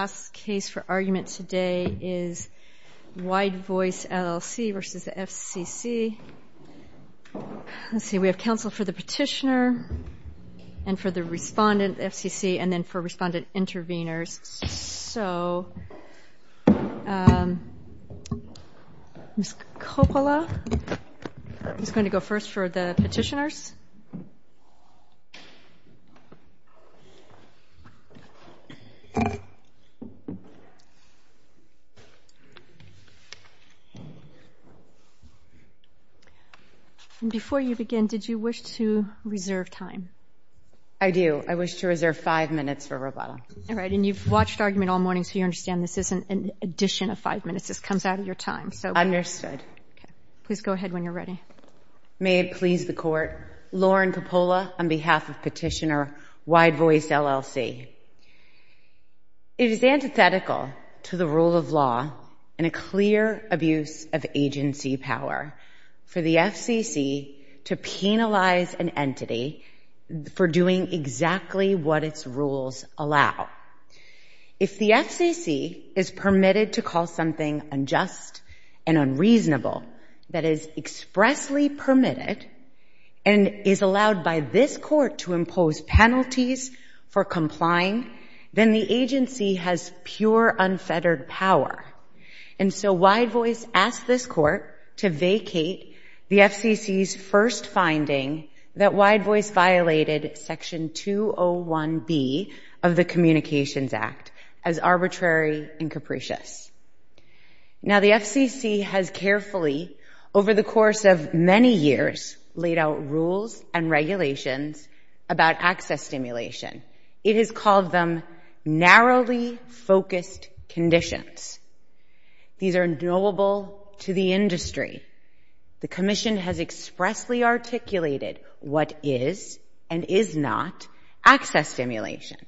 Last case for argument today is Wide Voice, LLC v. FCC Let's see, we have counsel for the petitioner and for the respondent, FCC, and then for respondent intervenors. So, Ms. Coppola is going to go first for the petitioners. Before you begin, did you wish to reserve time? I do. I wish to reserve five minutes for Roboto. All right, and you've watched argument all morning, so you understand this isn't an addition of five minutes. This comes out of your time. Understood. Please go ahead when you're ready. May it please the Court, Lauren Coppola on behalf of petitioner Wide Voice, LLC. It is antithetical to the rule of law and a clear abuse of agency power for the FCC to penalize an entity for doing exactly what its rules allow. If the FCC is permitted to call something unjust and unreasonable that is expressly permitted and is allowed by this Court to impose penalties for complying, then the agency has pure unfettered power. And so Wide Voice asked this Court to vacate the FCC's first finding that Wide Voice violated Section 201B of the Communications Act as arbitrary and capricious. Now, the FCC has carefully, over the course of many years, laid out rules and regulations about access stimulation. It has called them narrowly focused conditions. These are knowable to the industry. The Commission has expressly articulated what is and is not access stimulation.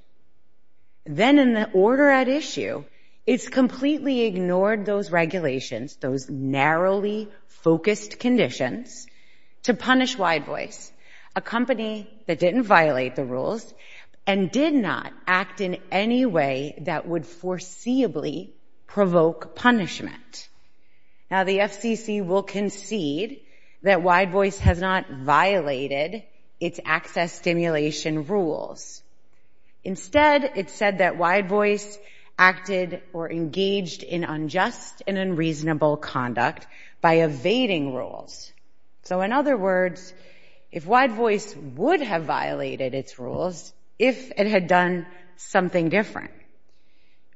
Then in the order at issue, it's completely ignored those regulations, those narrowly focused conditions, to punish Wide Voice, a company that didn't violate the rules and did not act in any way that would foreseeably provoke punishment. Now, the FCC will concede that Wide Voice has not violated its access stimulation rules. Instead, it said that Wide Voice acted or engaged in unjust and unreasonable conduct by evading rules. So in other words, if Wide Voice would have violated its rules if it had done something different.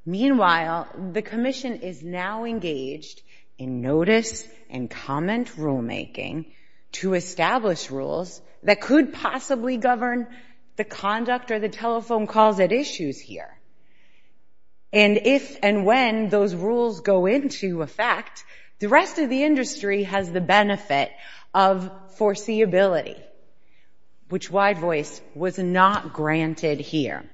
Meanwhile, the Commission is now engaged in notice and comment rulemaking to establish rules that could possibly govern the conduct or the telephone calls at issues here. And if and when those rules go into effect, the rest of the industry has the benefit of foreseeability, which Wide Voice was not granted here.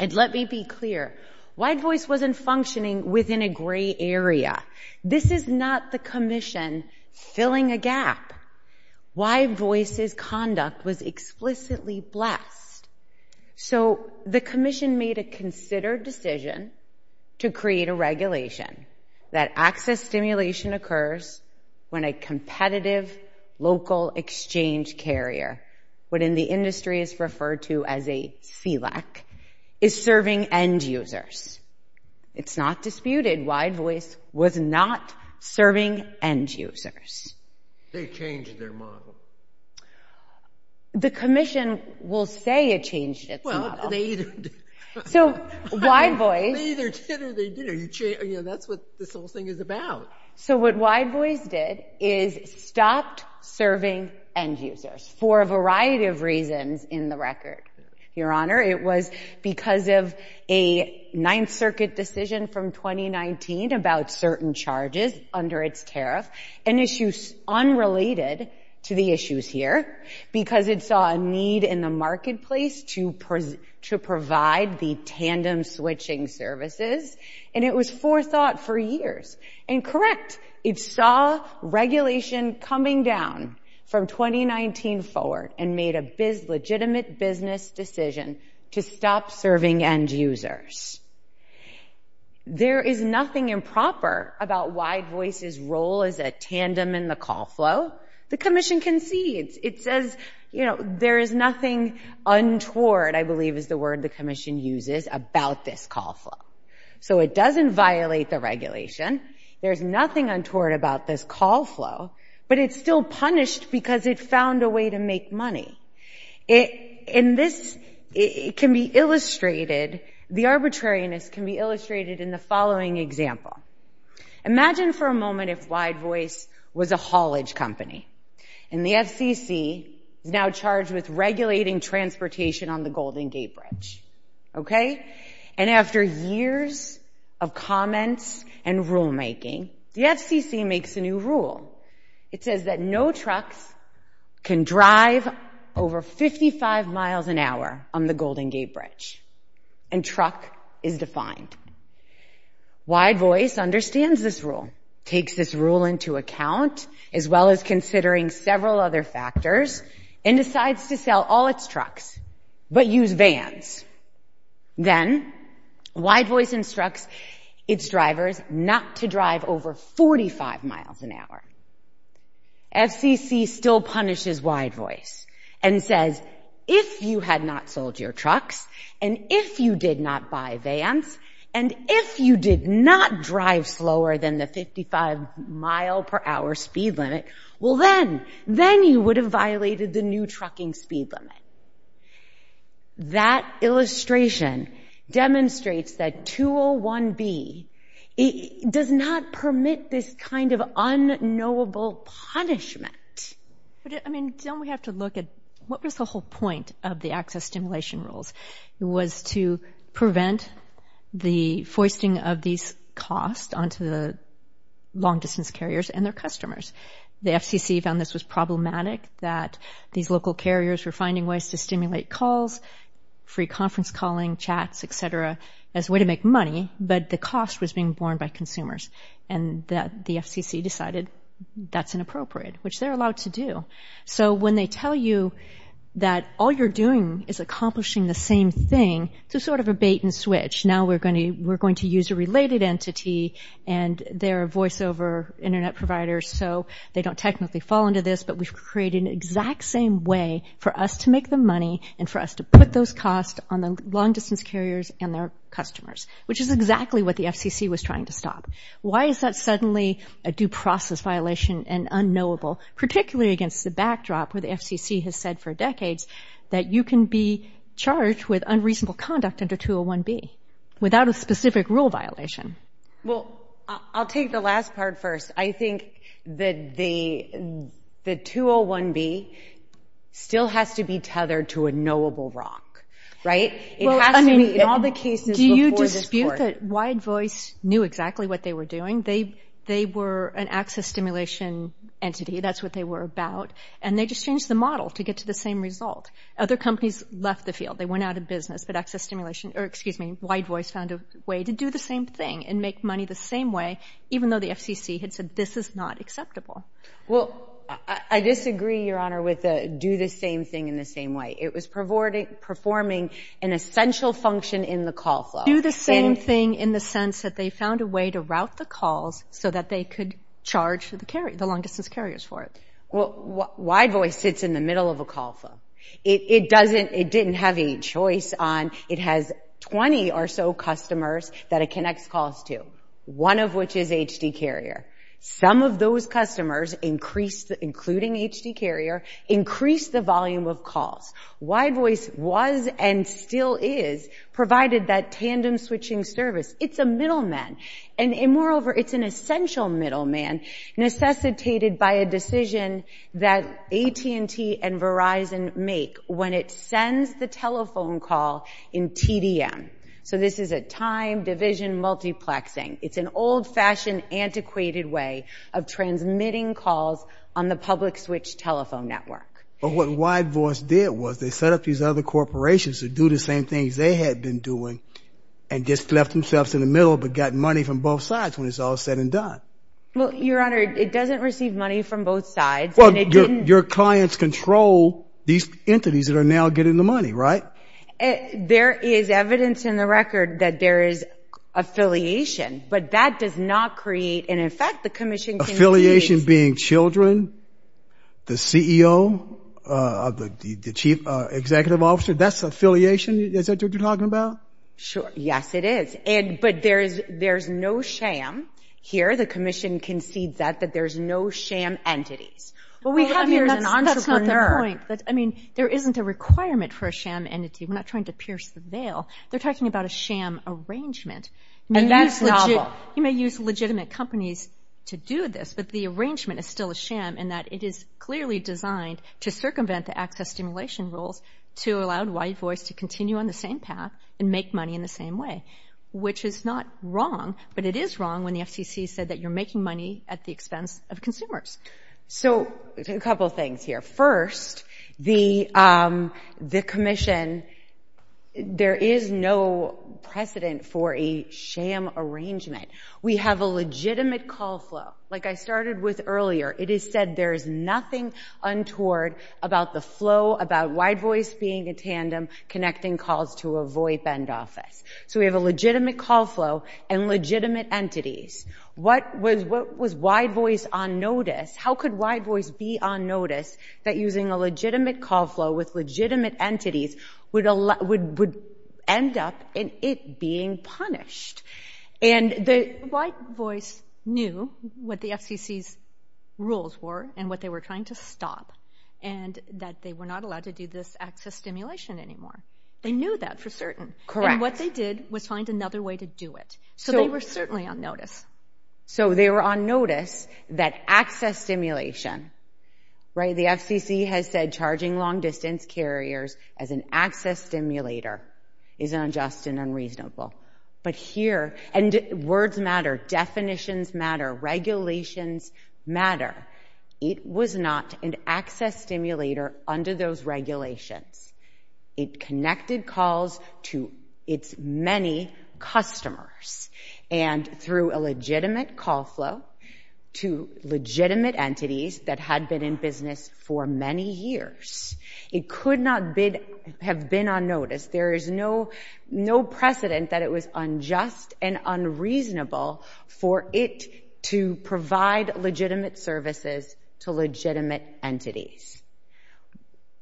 And let me be clear, Wide Voice wasn't functioning within a gray area. This is not the Commission filling a gap. Wide Voice's conduct was explicitly blessed. So the Commission made a considered decision to create a regulation that access stimulation occurs when a competitive local exchange carrier, what in the industry is referred to as a FELAC, is serving end users. It's not disputed Wide Voice was not serving end users. They changed their model. The Commission will say it changed its model. Well, they either did. So Wide Voice— They either did or they didn't. You know, that's what this whole thing is about. So what Wide Voice did is stopped serving end users for a variety of reasons in the record, Your Honor. It was because of a Ninth Circuit decision from 2019 about certain charges under its tariff and issues unrelated to the issues here because it saw a need in the marketplace to provide the tandem switching services. And it was forethought for years. And correct, it saw regulation coming down from 2019 forward and made a legitimate business decision to stop serving end users. There is nothing improper about Wide Voice's role as a tandem in the call flow. The Commission concedes. It says, you know, there is nothing untoward, I believe is the word the Commission uses, about this call flow. So it doesn't violate the regulation. There's nothing untoward about this call flow, but it's still punished because it found a way to make money. And this can be illustrated, the arbitrariness can be illustrated in the following example. Imagine for a moment if Wide Voice was a haulage company. And the FCC is now charged with regulating transportation on the Golden Gate Bridge. Okay? And after years of comments and rulemaking, the FCC makes a new rule. It says that no trucks can drive over 55 miles an hour on the Golden Gate Bridge. And truck is defined. Wide Voice understands this rule, takes this rule into account, as well as considering several other factors, and decides to sell all its trucks but use vans. Then Wide Voice instructs its drivers not to drive over 45 miles an hour. FCC still punishes Wide Voice and says, if you had not sold your trucks, and if you did not buy vans, and if you did not drive slower than the 55-mile-per-hour speed limit, well then, then you would have violated the new trucking speed limit. That illustration demonstrates that 201B does not permit this kind of unknowable punishment. But, I mean, don't we have to look at what was the whole point of the access stimulation rules? It was to prevent the foisting of these costs onto the long-distance carriers and their customers. The FCC found this was problematic, that these local carriers were finding ways to stimulate calls, free conference calling, chats, et cetera, as a way to make money, but the cost was being borne by consumers. And the FCC decided that's inappropriate, which they're allowed to do. So when they tell you that all you're doing is accomplishing the same thing, it's sort of a bait-and-switch. Now we're going to use a related entity, and they're a voiceover Internet provider, so they don't technically fall into this, but we've created an exact same way for us to make the money and for us to put those costs on the long-distance carriers and their customers, which is exactly what the FCC was trying to stop. Why is that suddenly a due process violation and unknowable, particularly against the backdrop where the FCC has said for decades that you can be charged with unreasonable conduct under 201B without a specific rule violation? Well, I'll take the last part first. I think that the 201B still has to be tethered to a knowable wrong, right? It has to be in all the cases before this court. Do you dispute that Wide Voice knew exactly what they were doing? They were an access stimulation entity. That's what they were about, and they just changed the model to get to the same result. Other companies left the field. They went out of business, but Wide Voice found a way to do the same thing and make money the same way, even though the FCC had said this is not acceptable. Well, I disagree, Your Honor, with the do the same thing in the same way. It was performing an essential function in the call flow. Do the same thing in the sense that they found a way to route the calls so that they could charge the long-distance carriers for it? Well, Wide Voice sits in the middle of a call flow. It didn't have a choice on it has 20 or so customers that it connects calls to, one of which is HD Carrier. Some of those customers, including HD Carrier, increased the volume of calls. Wide Voice was and still is provided that tandem switching service. It's a middleman. And moreover, it's an essential middleman necessitated by a decision that AT&T and Verizon make when it sends the telephone call in TDM. So this is a time division multiplexing. It's an old-fashioned, antiquated way of transmitting calls on the public switch telephone network. But what Wide Voice did was they set up these other corporations to do the same things they had been doing and just left themselves in the middle but got money from both sides when it's all said and done. Well, Your Honor, it doesn't receive money from both sides. Well, your clients control these entities that are now getting the money, right? There is evidence in the record that there is affiliation, but that does not create and, in fact, the commission can't do this. Affiliation being children, the CEO, the chief executive officer, that's affiliation? Is that what you're talking about? Yes, it is. But there's no sham here. The commission concedes that, that there's no sham entities. Well, we have here an entrepreneur. That's not the point. I mean, there isn't a requirement for a sham entity. We're not trying to pierce the veil. They're talking about a sham arrangement. And that's novel. You may use legitimate companies to do this, but the arrangement is still a sham in that it is clearly designed to circumvent the access stimulation rules to allow white voice to continue on the same path and make money in the same way, which is not wrong, but it is wrong when the FCC said that you're making money at the expense of consumers. So a couple things here. First, the commission, there is no precedent for a sham arrangement. We have a legitimate call flow. Like I started with earlier, it is said there is nothing untoward about the flow, about white voice being a tandem connecting calls to a VOIP end office. So we have a legitimate call flow and legitimate entities. What was white voice on notice? How could white voice be on notice that using a legitimate call flow with legitimate entities would end up in it being punished? White voice knew what the FCC's rules were and what they were trying to stop and that they were not allowed to do this access stimulation anymore. They knew that for certain. Correct. And what they did was find another way to do it. So they were certainly on notice. So they were on notice that access stimulation, right, the FCC has said charging long distance carriers as an access stimulator is unjust and unreasonable. But here, and words matter, definitions matter, regulations matter. It was not an access stimulator under those regulations. It connected calls to its many customers and through a legitimate call flow to legitimate entities that had been in business for many years. It could not have been on notice. There is no precedent that it was unjust and unreasonable for it to provide legitimate services to legitimate entities.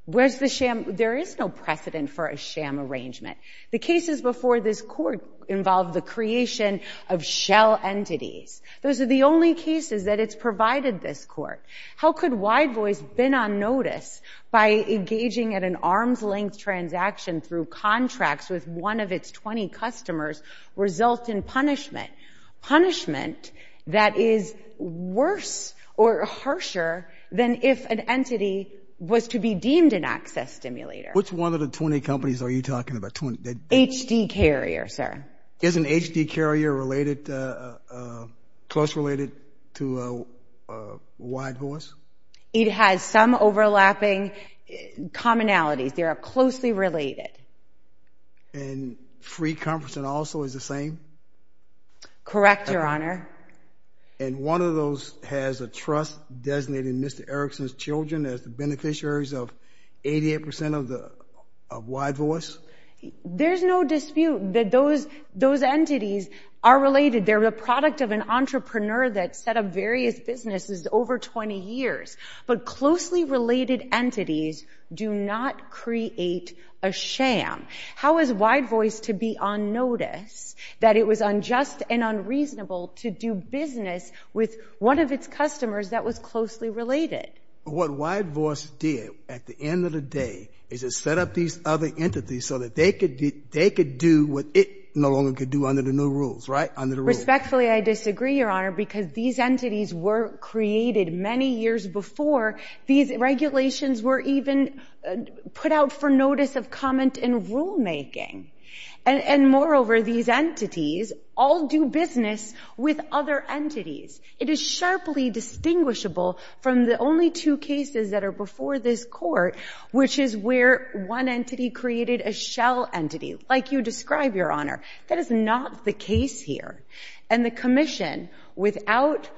Where's the sham? There is no precedent for a sham arrangement. The cases before this court involved the creation of shell entities. Those are the only cases that it's provided this court. How could white voice been on notice by engaging at an arm's length transaction through contracts with one of its 20 customers result in punishment? Punishment that is worse or harsher than if an entity was to be deemed an access stimulator. Which one of the 20 companies are you talking about? HD Carrier, sir. Isn't HD Carrier close related to white voice? It has some overlapping commonalities. They are closely related. And Free Conference and also is the same? Correct, Your Honor. And one of those has a trust designated Mr. Erickson's children as the beneficiaries of 88% of white voice? There's no dispute that those entities are related. They're the product of an entrepreneur that set up various businesses over 20 years. But closely related entities do not create a sham. How is white voice to be on notice that it was unjust and unreasonable to do business with one of its customers that was closely related? What white voice did at the end of the day is it set up these other entities so that they could do what it no longer could do under the new rules, right? Respectfully, I disagree, Your Honor, because these entities were created many years before these regulations were even put out for notice of comment in rulemaking. And moreover, these entities all do business with other entities. It is sharply distinguishable from the only two cases that are before this court, which is where one entity created a shell entity, like you describe, Your Honor. That is not the case here. And the commission, without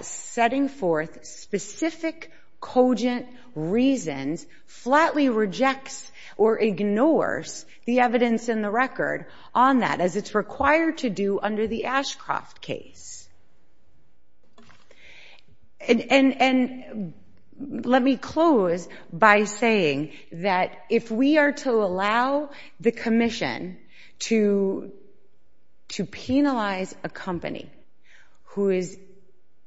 setting forth specific cogent reasons, flatly rejects or ignores the evidence in the record on that as it's required to do under the Ashcroft case. And let me close by saying that if we are to allow the commission to penalize a company who is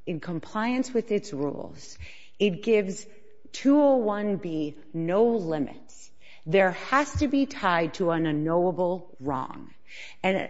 in compliance with its rules, it gives 201B no limits. There has to be tied to an unknowable wrong. And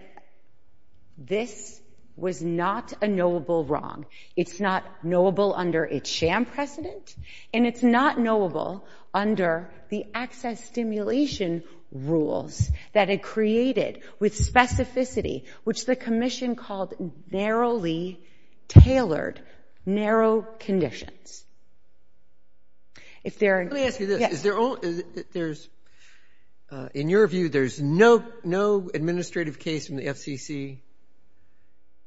this was not a knowable wrong. It's not knowable under its sham precedent, and it's not knowable under the access stimulation rules that it created with specificity, which the commission called narrowly tailored, narrow conditions. Let me ask you this. In your view, there's no administrative case in the FCC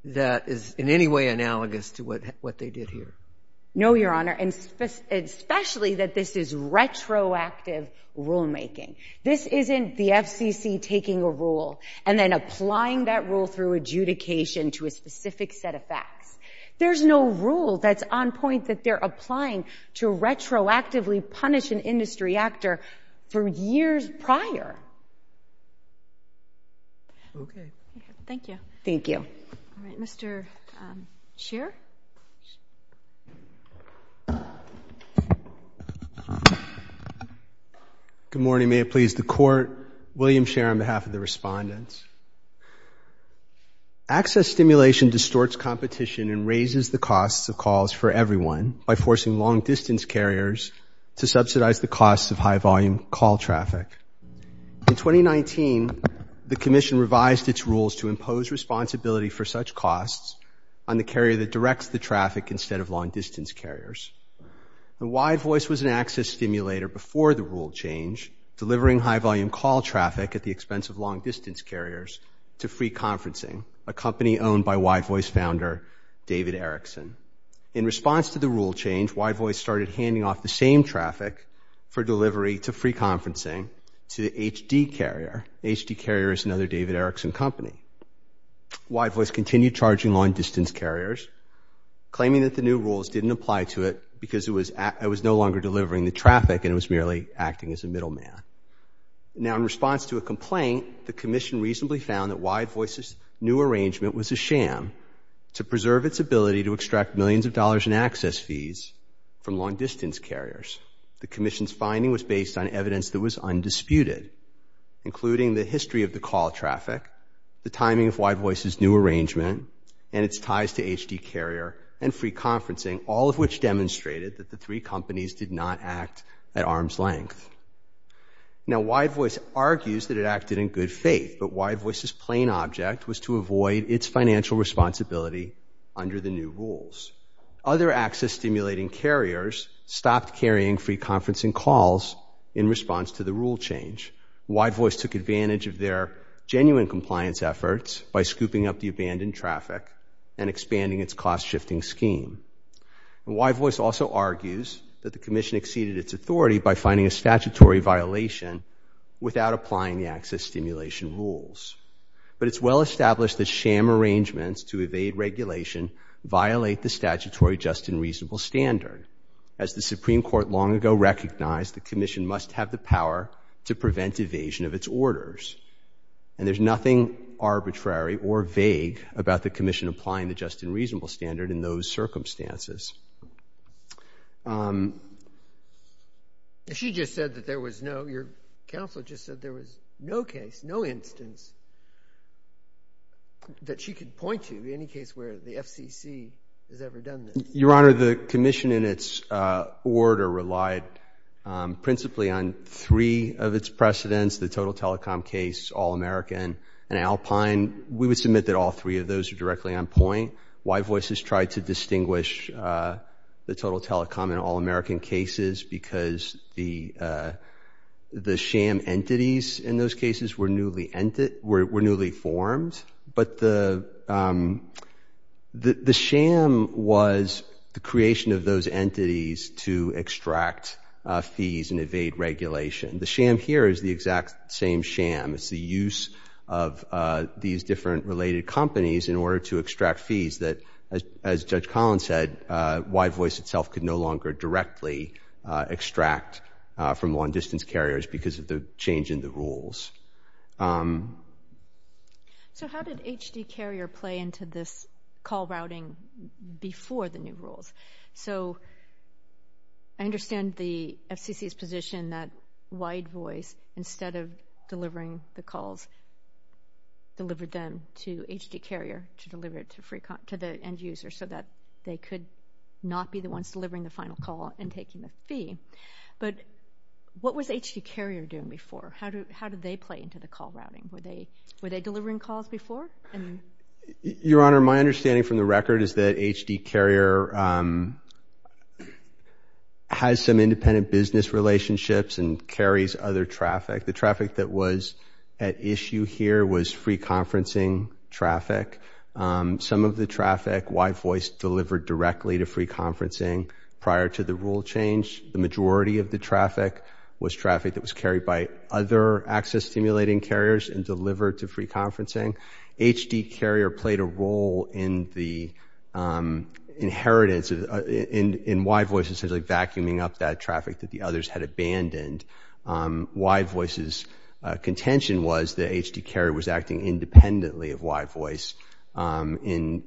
that is in any way analogous to what they did here? No, Your Honor, especially that this is retroactive rulemaking. This isn't the FCC taking a rule and then applying that rule through adjudication to a specific set of facts. There's no rule that's on point that they're applying to retroactively punish an industry actor for years prior. Okay. Thank you. Thank you. All right. Mr. Scheer? Mr. Scheer? Good morning. May it please the Court. William Scheer on behalf of the respondents. Access stimulation distorts competition and raises the costs of calls for everyone by forcing long-distance carriers to subsidize the costs of high-volume call traffic. In 2019, the commission revised its rules to impose responsibility for such costs on the carrier that directs the traffic instead of long-distance carriers. WideVoice was an access stimulator before the rule change, delivering high-volume call traffic at the expense of long-distance carriers to Free Conferencing, a company owned by WideVoice founder David Erickson. In response to the rule change, WideVoice started handing off the same traffic for delivery to Free Conferencing to HD Carrier. HD Carrier is another David Erickson company. WideVoice continued charging long-distance carriers, claiming that the new rules didn't apply to it because it was no longer delivering the traffic and it was merely acting as a middleman. Now, in response to a complaint, the commission reasonably found that WideVoice's new arrangement was a sham to preserve its ability to extract millions of dollars in access fees from long-distance carriers. The commission's finding was based on evidence that was undisputed, including the history of the call traffic, the timing of WideVoice's new arrangement, and its ties to HD Carrier and Free Conferencing, all of which demonstrated that the three companies did not act at arm's length. Now, WideVoice argues that it acted in good faith, but WideVoice's plain object was to avoid its financial responsibility under the new rules. Other access-stimulating carriers stopped carrying Free Conferencing calls in response to the rule change. WideVoice took advantage of their genuine compliance efforts by scooping up the abandoned traffic and expanding its cost-shifting scheme. WideVoice also argues that the commission exceeded its authority by finding a statutory violation without applying the access-stimulation rules. But it's well established that sham arrangements to evade regulation violate the statutory just and reasonable standard. As the Supreme Court long ago recognized, the commission must have the power to prevent evasion of its orders. And there's nothing arbitrary or vague about the commission applying the just and reasonable standard in those circumstances. Um... She just said that there was no... Your counsel just said there was no case, no instance that she could point to, in any case where the FCC has ever done this. Your Honor, the commission in its order relied principally on three of its precedents, the Total Telecom case, All-American, and Alpine. We would submit that all three of those are directly on point. WideVoice has tried to distinguish the Total Telecom and All-American cases because the sham entities in those cases were newly formed. But the sham was the creation of those entities to extract fees and evade regulation. The sham here is the exact same sham. It's the use of these different related companies in order to extract fees that, as Judge Collins said, WideVoice itself could no longer directly extract from long-distance carriers because of the change in the rules. So how did HD Carrier play into this call routing before the new rules? So I understand the FCC's position that WideVoice, instead of delivering the calls, delivered them to HD Carrier to deliver it to the end user so that they could not be the ones delivering the final call and taking the fee. But what was HD Carrier doing before? How did they play into the call routing? Were they delivering calls before? Your Honor, my understanding from the record is that HD Carrier has some independent business relationships and carries other traffic. The traffic that was at issue here was free conferencing traffic. Some of the traffic WideVoice delivered directly to free conferencing prior to the rule change. The majority of the traffic was traffic that was carried by other access-stimulating carriers and delivered to free conferencing. HD Carrier played a role in the inheritance, in WideVoice essentially vacuuming up that traffic that the others had abandoned. WideVoice's contention was that HD Carrier was acting independently of WideVoice in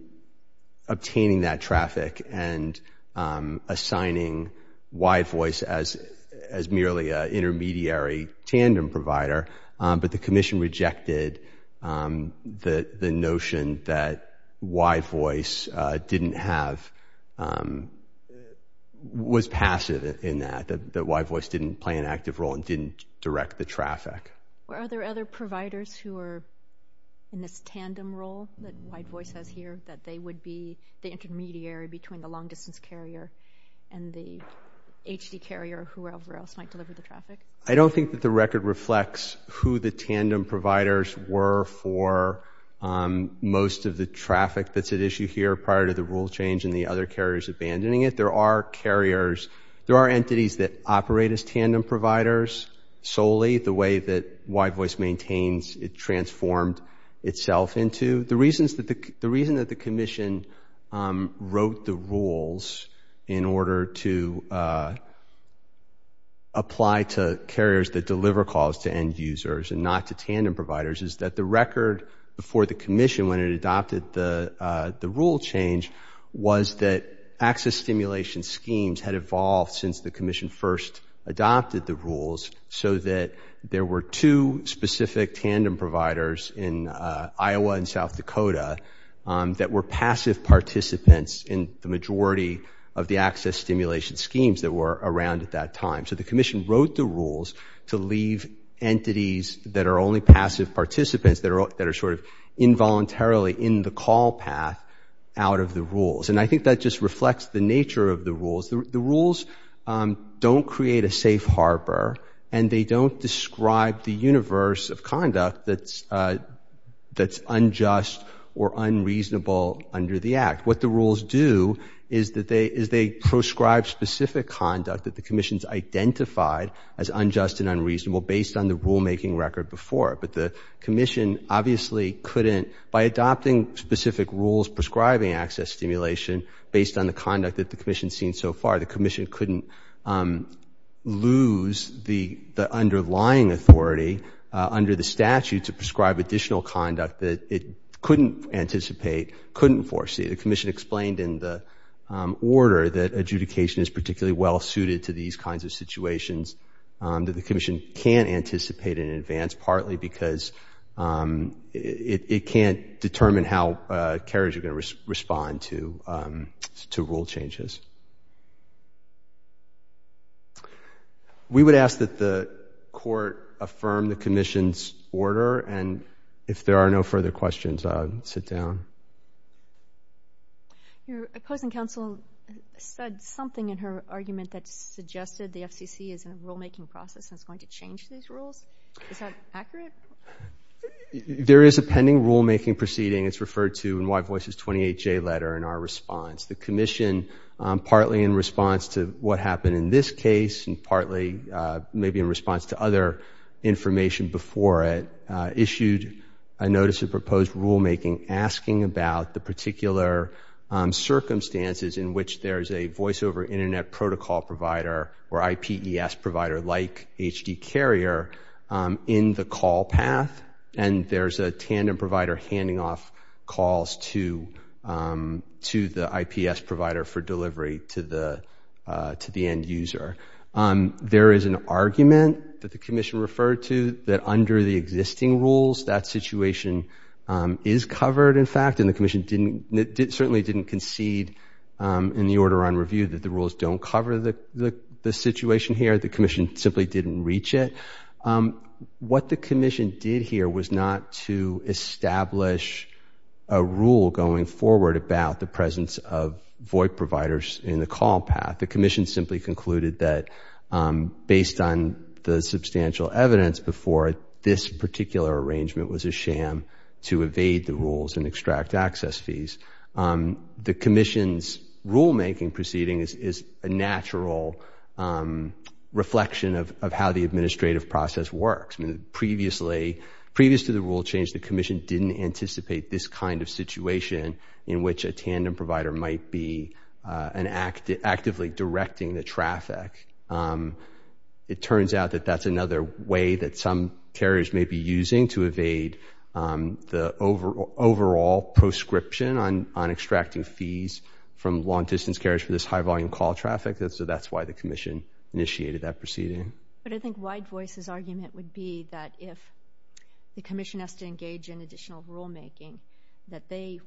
obtaining that traffic and assigning WideVoice as merely an intermediary tandem provider. But the Commission rejected the notion that WideVoice didn't have, was passive in that, that WideVoice didn't play an active role and didn't direct the traffic. Are there other providers who are in this tandem role that WideVoice has here that they would be the intermediary between the long-distance carrier and the HD Carrier or whoever else might deliver the traffic? I don't think that the record reflects who the tandem providers were for most of the traffic that's at issue here prior to the rule change and the other carriers abandoning it. There are carriers, there are entities that operate as tandem providers solely, the way that WideVoice maintains it transformed itself into. The reason that the Commission wrote the rules in order to apply to carriers that deliver calls to end users and not to tandem providers is that the record before the Commission when it adopted the rule change was that access stimulation schemes had evolved since the Commission first adopted the rules so that there were two specific tandem providers in Iowa and South Dakota that were passive participants in the majority of the access stimulation schemes that were around at that time. So the Commission wrote the rules to leave entities that are only passive participants, that are sort of involuntarily in the call path out of the rules. And I think that just reflects the nature of the rules. The rules don't create a safe harbor and they don't describe the universe of conduct that's unjust or unreasonable under the Act. What the rules do is they prescribe specific conduct that the Commission's identified as unjust and unreasonable based on the rulemaking record before. But the Commission obviously couldn't, by adopting specific rules prescribing access stimulation based on the conduct that the Commission's seen so far, the Commission couldn't lose the underlying authority under the statute to prescribe additional conduct that it couldn't anticipate, couldn't foresee. The Commission explained in the order that adjudication is particularly well suited to these kinds of situations that the Commission can't anticipate in advance, partly because it can't determine how carriers are going to respond to rule changes. We would ask that the Court affirm the Commission's order and if there are no further questions, I'll sit down. Your opposing counsel said something in her argument that suggested the FCC is in a rulemaking process and is going to change these rules. Is that accurate? There is a pending rulemaking proceeding. It's referred to in White Voice's 28J letter in our response. The Commission, partly in response to what happened in this case and partly maybe in response to other information before it, issued a notice of proposed rulemaking asking about the particular circumstances in which there's a voice-over Internet protocol provider or IPES provider like HD Carrier in the call path and there's a tandem provider handing off calls to the IPES provider for delivery to the end user. There is an argument that the Commission referred to that under the existing rules that situation is covered, in fact, and the Commission certainly didn't concede in the order on review that the rules don't cover the situation here. The Commission simply didn't reach it. What the Commission did here was not to establish a rule going forward about the presence of VoIP providers in the call path. The Commission simply concluded that, based on the substantial evidence before it, this particular arrangement was a sham to evade the rules and extract access fees. The Commission's rulemaking proceeding is a natural reflection of how the administrative process works. Previously to the rule change, the Commission didn't anticipate this kind of situation in which a tandem provider might be actively directing the traffic. It turns out that that's another way that some carriers may be using to evade the overall prescription on extracting fees from long-distance carriers for this high-volume call traffic, so that's why the Commission initiated that proceeding. But I think Wide Voice's argument would be that if the Commission has to engage in additional rulemaking, that they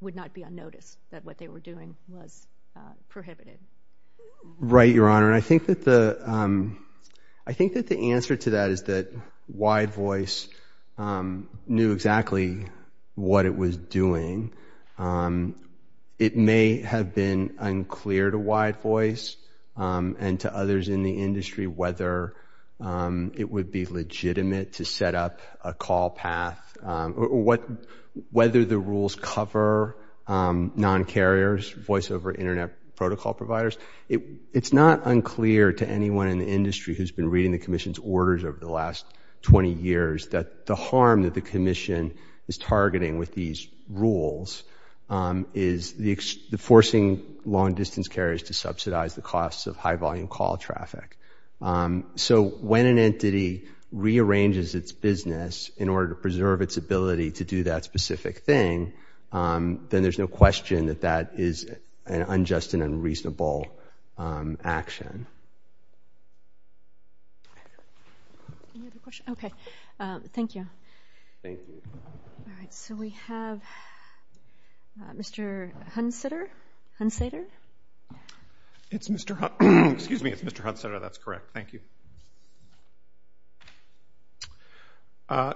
would not be unnoticed, that what they were doing was prohibited. Right, Your Honor, and I think that the answer to that is that Wide Voice knew exactly what it was doing. It may have been unclear to Wide Voice and to others in the industry whether it would be legitimate to set up a call path, whether the rules cover non-carriers, voice-over Internet protocol providers. It's not unclear to anyone in the industry who's been reading the Commission's orders over the last 20 years that the harm that the Commission is targeting with these rules is forcing long-distance carriers to subsidize the costs of high-volume call traffic. So when an entity rearranges its business in order to preserve its ability to do that specific thing, then there's no question that that is an unjust and unreasonable action. Any other questions? Okay, thank you. Thank you. All right, so we have Mr. Hunsater. It's Mr. Hunsater, that's correct, thank you.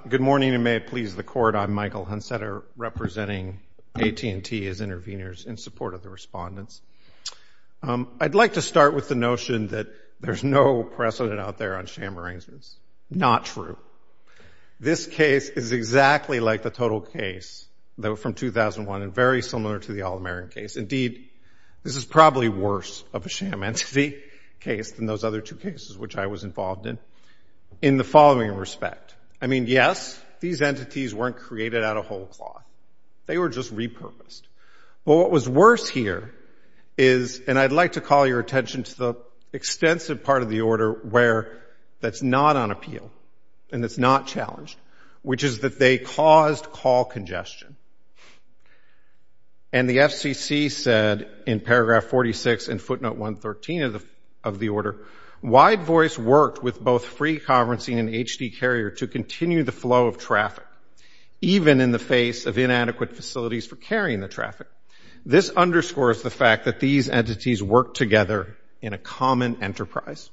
Good morning, and may it please the Court, I'm Michael Hunsater representing AT&T as intervenors in support of the respondents. I'd like to start with the notion that there's no precedent out there on sham arrangements. Not true. This case is exactly like the Total case from 2001 and very similar to the Al-Amerin case. Indeed, this is probably worse of a sham entity case than those other two cases which I was involved in, in the following respect. I mean, yes, these entities weren't created out of whole cloth. They were just repurposed. But what was worse here is, and I'd like to call your attention to the extensive part of the order that's not on appeal and that's not challenged, which is that they caused call congestion. And the FCC said in paragraph 46 in footnote 113 of the order, wide voice worked with both free conferencing and HD carrier to continue the flow of traffic, even in the face of inadequate facilities for carrying the traffic. This underscores the fact that these entities worked together in a common enterprise.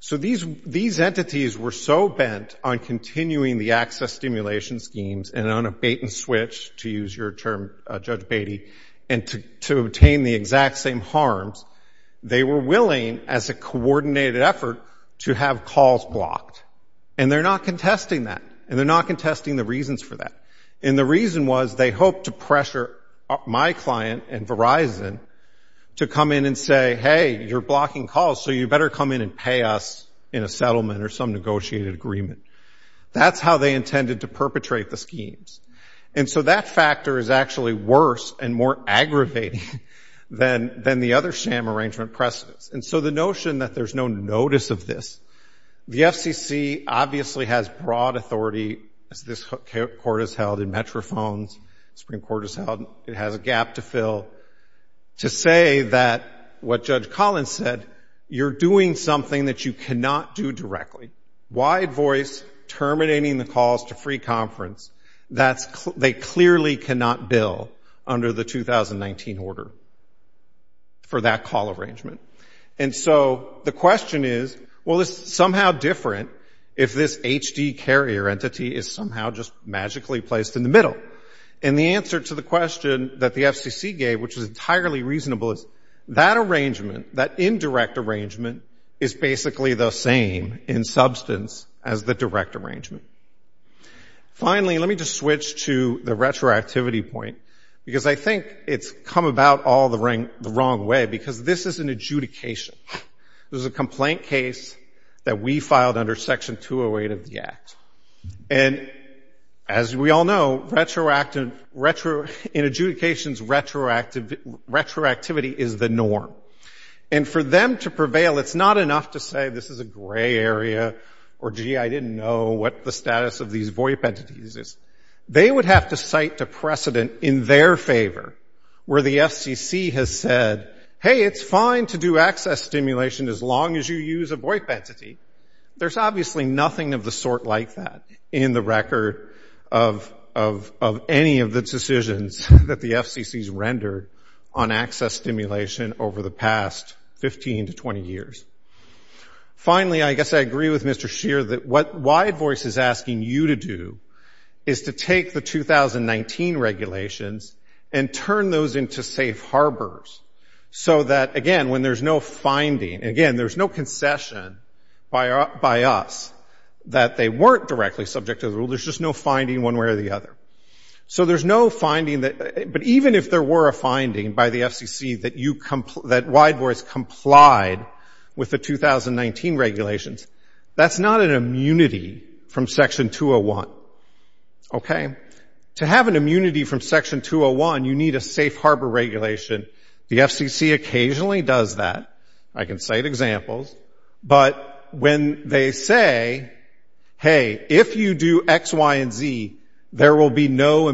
So these entities were so bent on continuing the access stimulation schemes and on a bait and switch, to use your term, Judge Beatty, and to obtain the exact same harms, they were willing, as a coordinated effort, to have calls blocked. And they're not contesting that. And they're not contesting the reasons for that. And the reason was they hoped to pressure my client and Verizon to come in and say, hey, you're blocking calls, so you better come in and pay us in a settlement or some negotiated agreement. That's how they intended to perpetrate the schemes. And so that factor is actually worse and more aggravating than the other sham arrangement precedents. And so the notion that there's no notice of this, the FCC obviously has broad authority, as this Court has held in Metrophones, Supreme Court has held, it has a gap to fill, to say that what Judge Collins said, you're doing something that you cannot do directly. Wide voice, terminating the calls to free conference, they clearly cannot bill under the 2019 order for that call arrangement. And so the question is, well, it's somehow different if this HD carrier entity is somehow just magically placed in the middle. And the answer to the question that the FCC gave, which was entirely reasonable, is that arrangement, that indirect arrangement, is basically the same in substance as the direct arrangement. Finally, let me just switch to the retroactivity point, because I think it's come about all the wrong way, because this is an adjudication. This is a complaint case that we filed under Section 208 of the Act. And as we all know, in adjudications, retroactivity is the norm. And for them to prevail, it's not enough to say, this is a gray area, or, gee, I didn't know what the status of these VOIP entities is. They would have to cite the precedent in their favor, where the FCC has said, hey, it's fine to do access stimulation as long as you use a VOIP entity. There's obviously nothing of the sort like that in the record of any of the decisions that the FCC's rendered on access stimulation over the past 15 to 20 years. Finally, I guess I agree with Mr. Scheer that what Wide Voice is asking you to do is to take the 2019 regulations and turn those into safe harbors, so that, again, when there's no finding, again, there's no concession by us that they weren't directly subject to the rule. There's just no finding one way or the other. So there's no finding that... But even if there were a finding by the FCC that Wide Voice complied with the 2019 regulations, that's not an immunity from Section 201. Okay? To have an immunity from Section 201, you need a safe harbor regulation. The FCC occasionally does that. I can cite examples. But when they say, hey, if you do X, Y, and Z, there will be no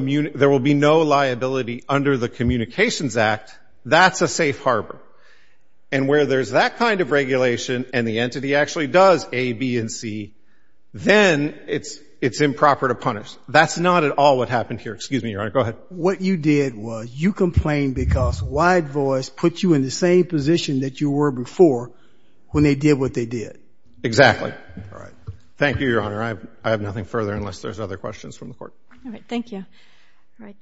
liability under the Communications Act, that's a safe harbor. And where there's that kind of regulation and the entity actually does A, B, and C, then it's improper to punish. That's not at all what happened here. Excuse me, Your Honor. Go ahead. What you did was you complained because Wide Voice put you in the same position that you were before when they did what they did. Exactly. Thank you, Your Honor. I have nothing further unless there's other questions from the Court. All right. Thank you. All right.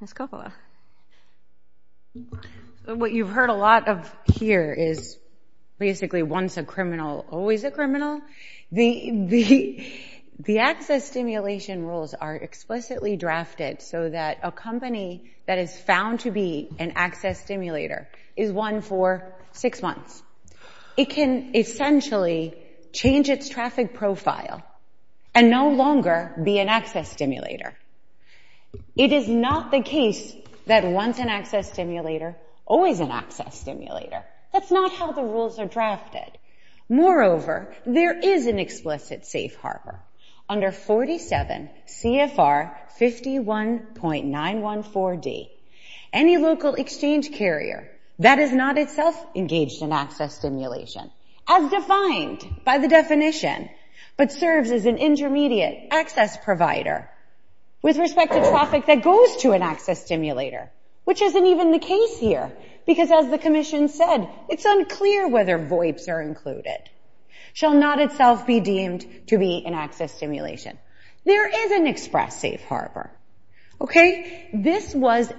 Ms. Coppola. What you've heard a lot of here is basically once a criminal, always a criminal. The access stimulation rules are explicitly drafted so that a company that is found to be an access stimulator is one for six months. It can essentially change its traffic profile and no longer be an access stimulator. It is not the case that once an access stimulator, always an access stimulator. That's not how the rules are drafted. Moreover, there is an explicit safe harbor under 47 CFR 51.914D. Any local exchange carrier that is not itself engaged in access stimulation, as defined by the definition, but serves as an intermediate access provider with respect to traffic that goes to an access stimulator, which isn't even the case here because, as the Commission said, it's unclear whether VOIPs are included, shall not itself be deemed to be an access stimulation. There is an express safe harbor. Okay? This was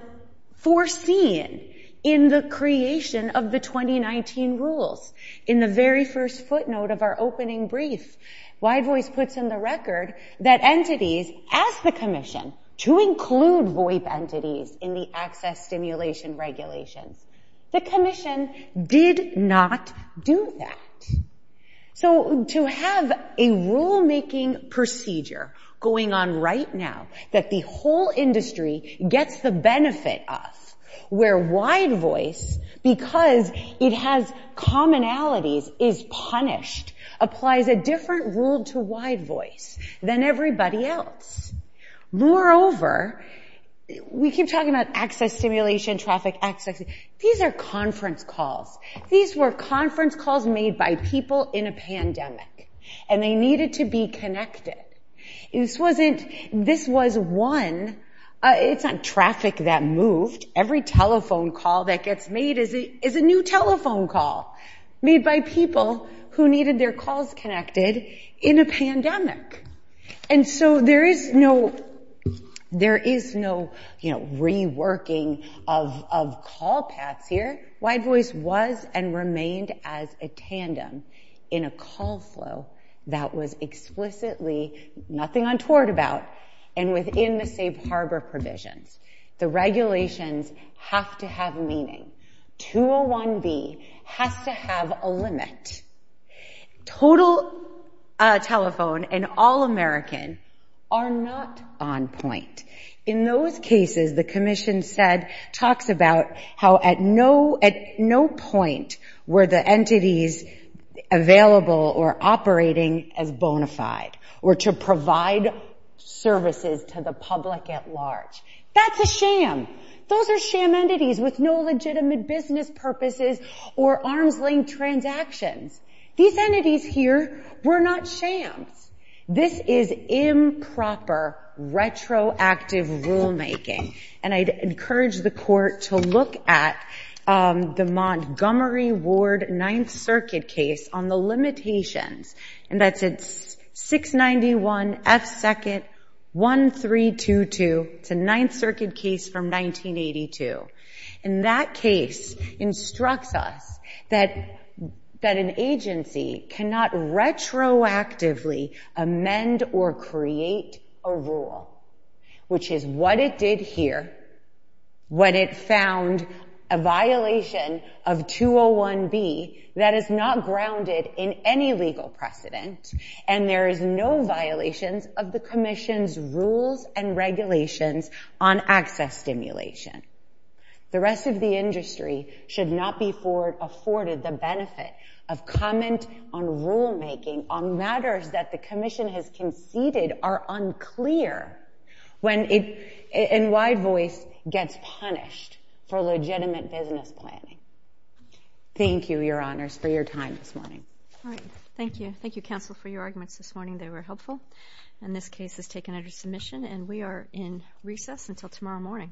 foreseen in the creation of the 2019 rules. In the very first footnote of our opening brief, Wide Voice puts in the record that entities, as the Commission, to include VOIP entities in the access stimulation regulations. The Commission did not do that. So to have a rulemaking procedure going on right now that the whole industry gets the benefit of, where Wide Voice, because it has commonalities, is punished, applies a different rule to Wide Voice than everybody else. Moreover, we keep talking about access stimulation, traffic access. These are conference calls. These were conference calls made by people in a pandemic, and they needed to be connected. This wasn't... This was one... It's not traffic that moved. Every telephone call that gets made is a new telephone call made by people who needed their calls connected in a pandemic. And so there is no... of call paths here. Wide Voice was and remained as a tandem in a call flow that was explicitly nothing untoward about and within the safe harbor provisions. The regulations have to have meaning. 201B has to have a limit. Total telephone and all-American are not on point. In those cases, the Commission said... talks about how at no point were the entities available or operating as bona fide or to provide services to the public at large. That's a sham. Those are sham entities with no legitimate business purposes or arm's length transactions. These entities here were not shams. This is improper retroactive rulemaking. And I'd encourage the Court to look at the Montgomery Ward Ninth Circuit case on the limitations. And that's at 691 F. 2nd 1322. It's a Ninth Circuit case from 1982. And that case instructs us that an agency cannot retroactively amend or create a rule, which is what it did here when it found a violation of 201B that is not grounded in any legal precedent and there is no violations of the Commission's rules and regulations on access stimulation. The rest of the industry should not be afforded the benefit of comment on rulemaking on matters that the Commission has conceded are unclear when, in wide voice, gets punished for legitimate business planning. Thank you, Your Honors, for your time this morning. Thank you. Thank you, Counsel, for your arguments this morning. They were helpful. And this case is taken under submission and we are in recess until tomorrow morning. All rise.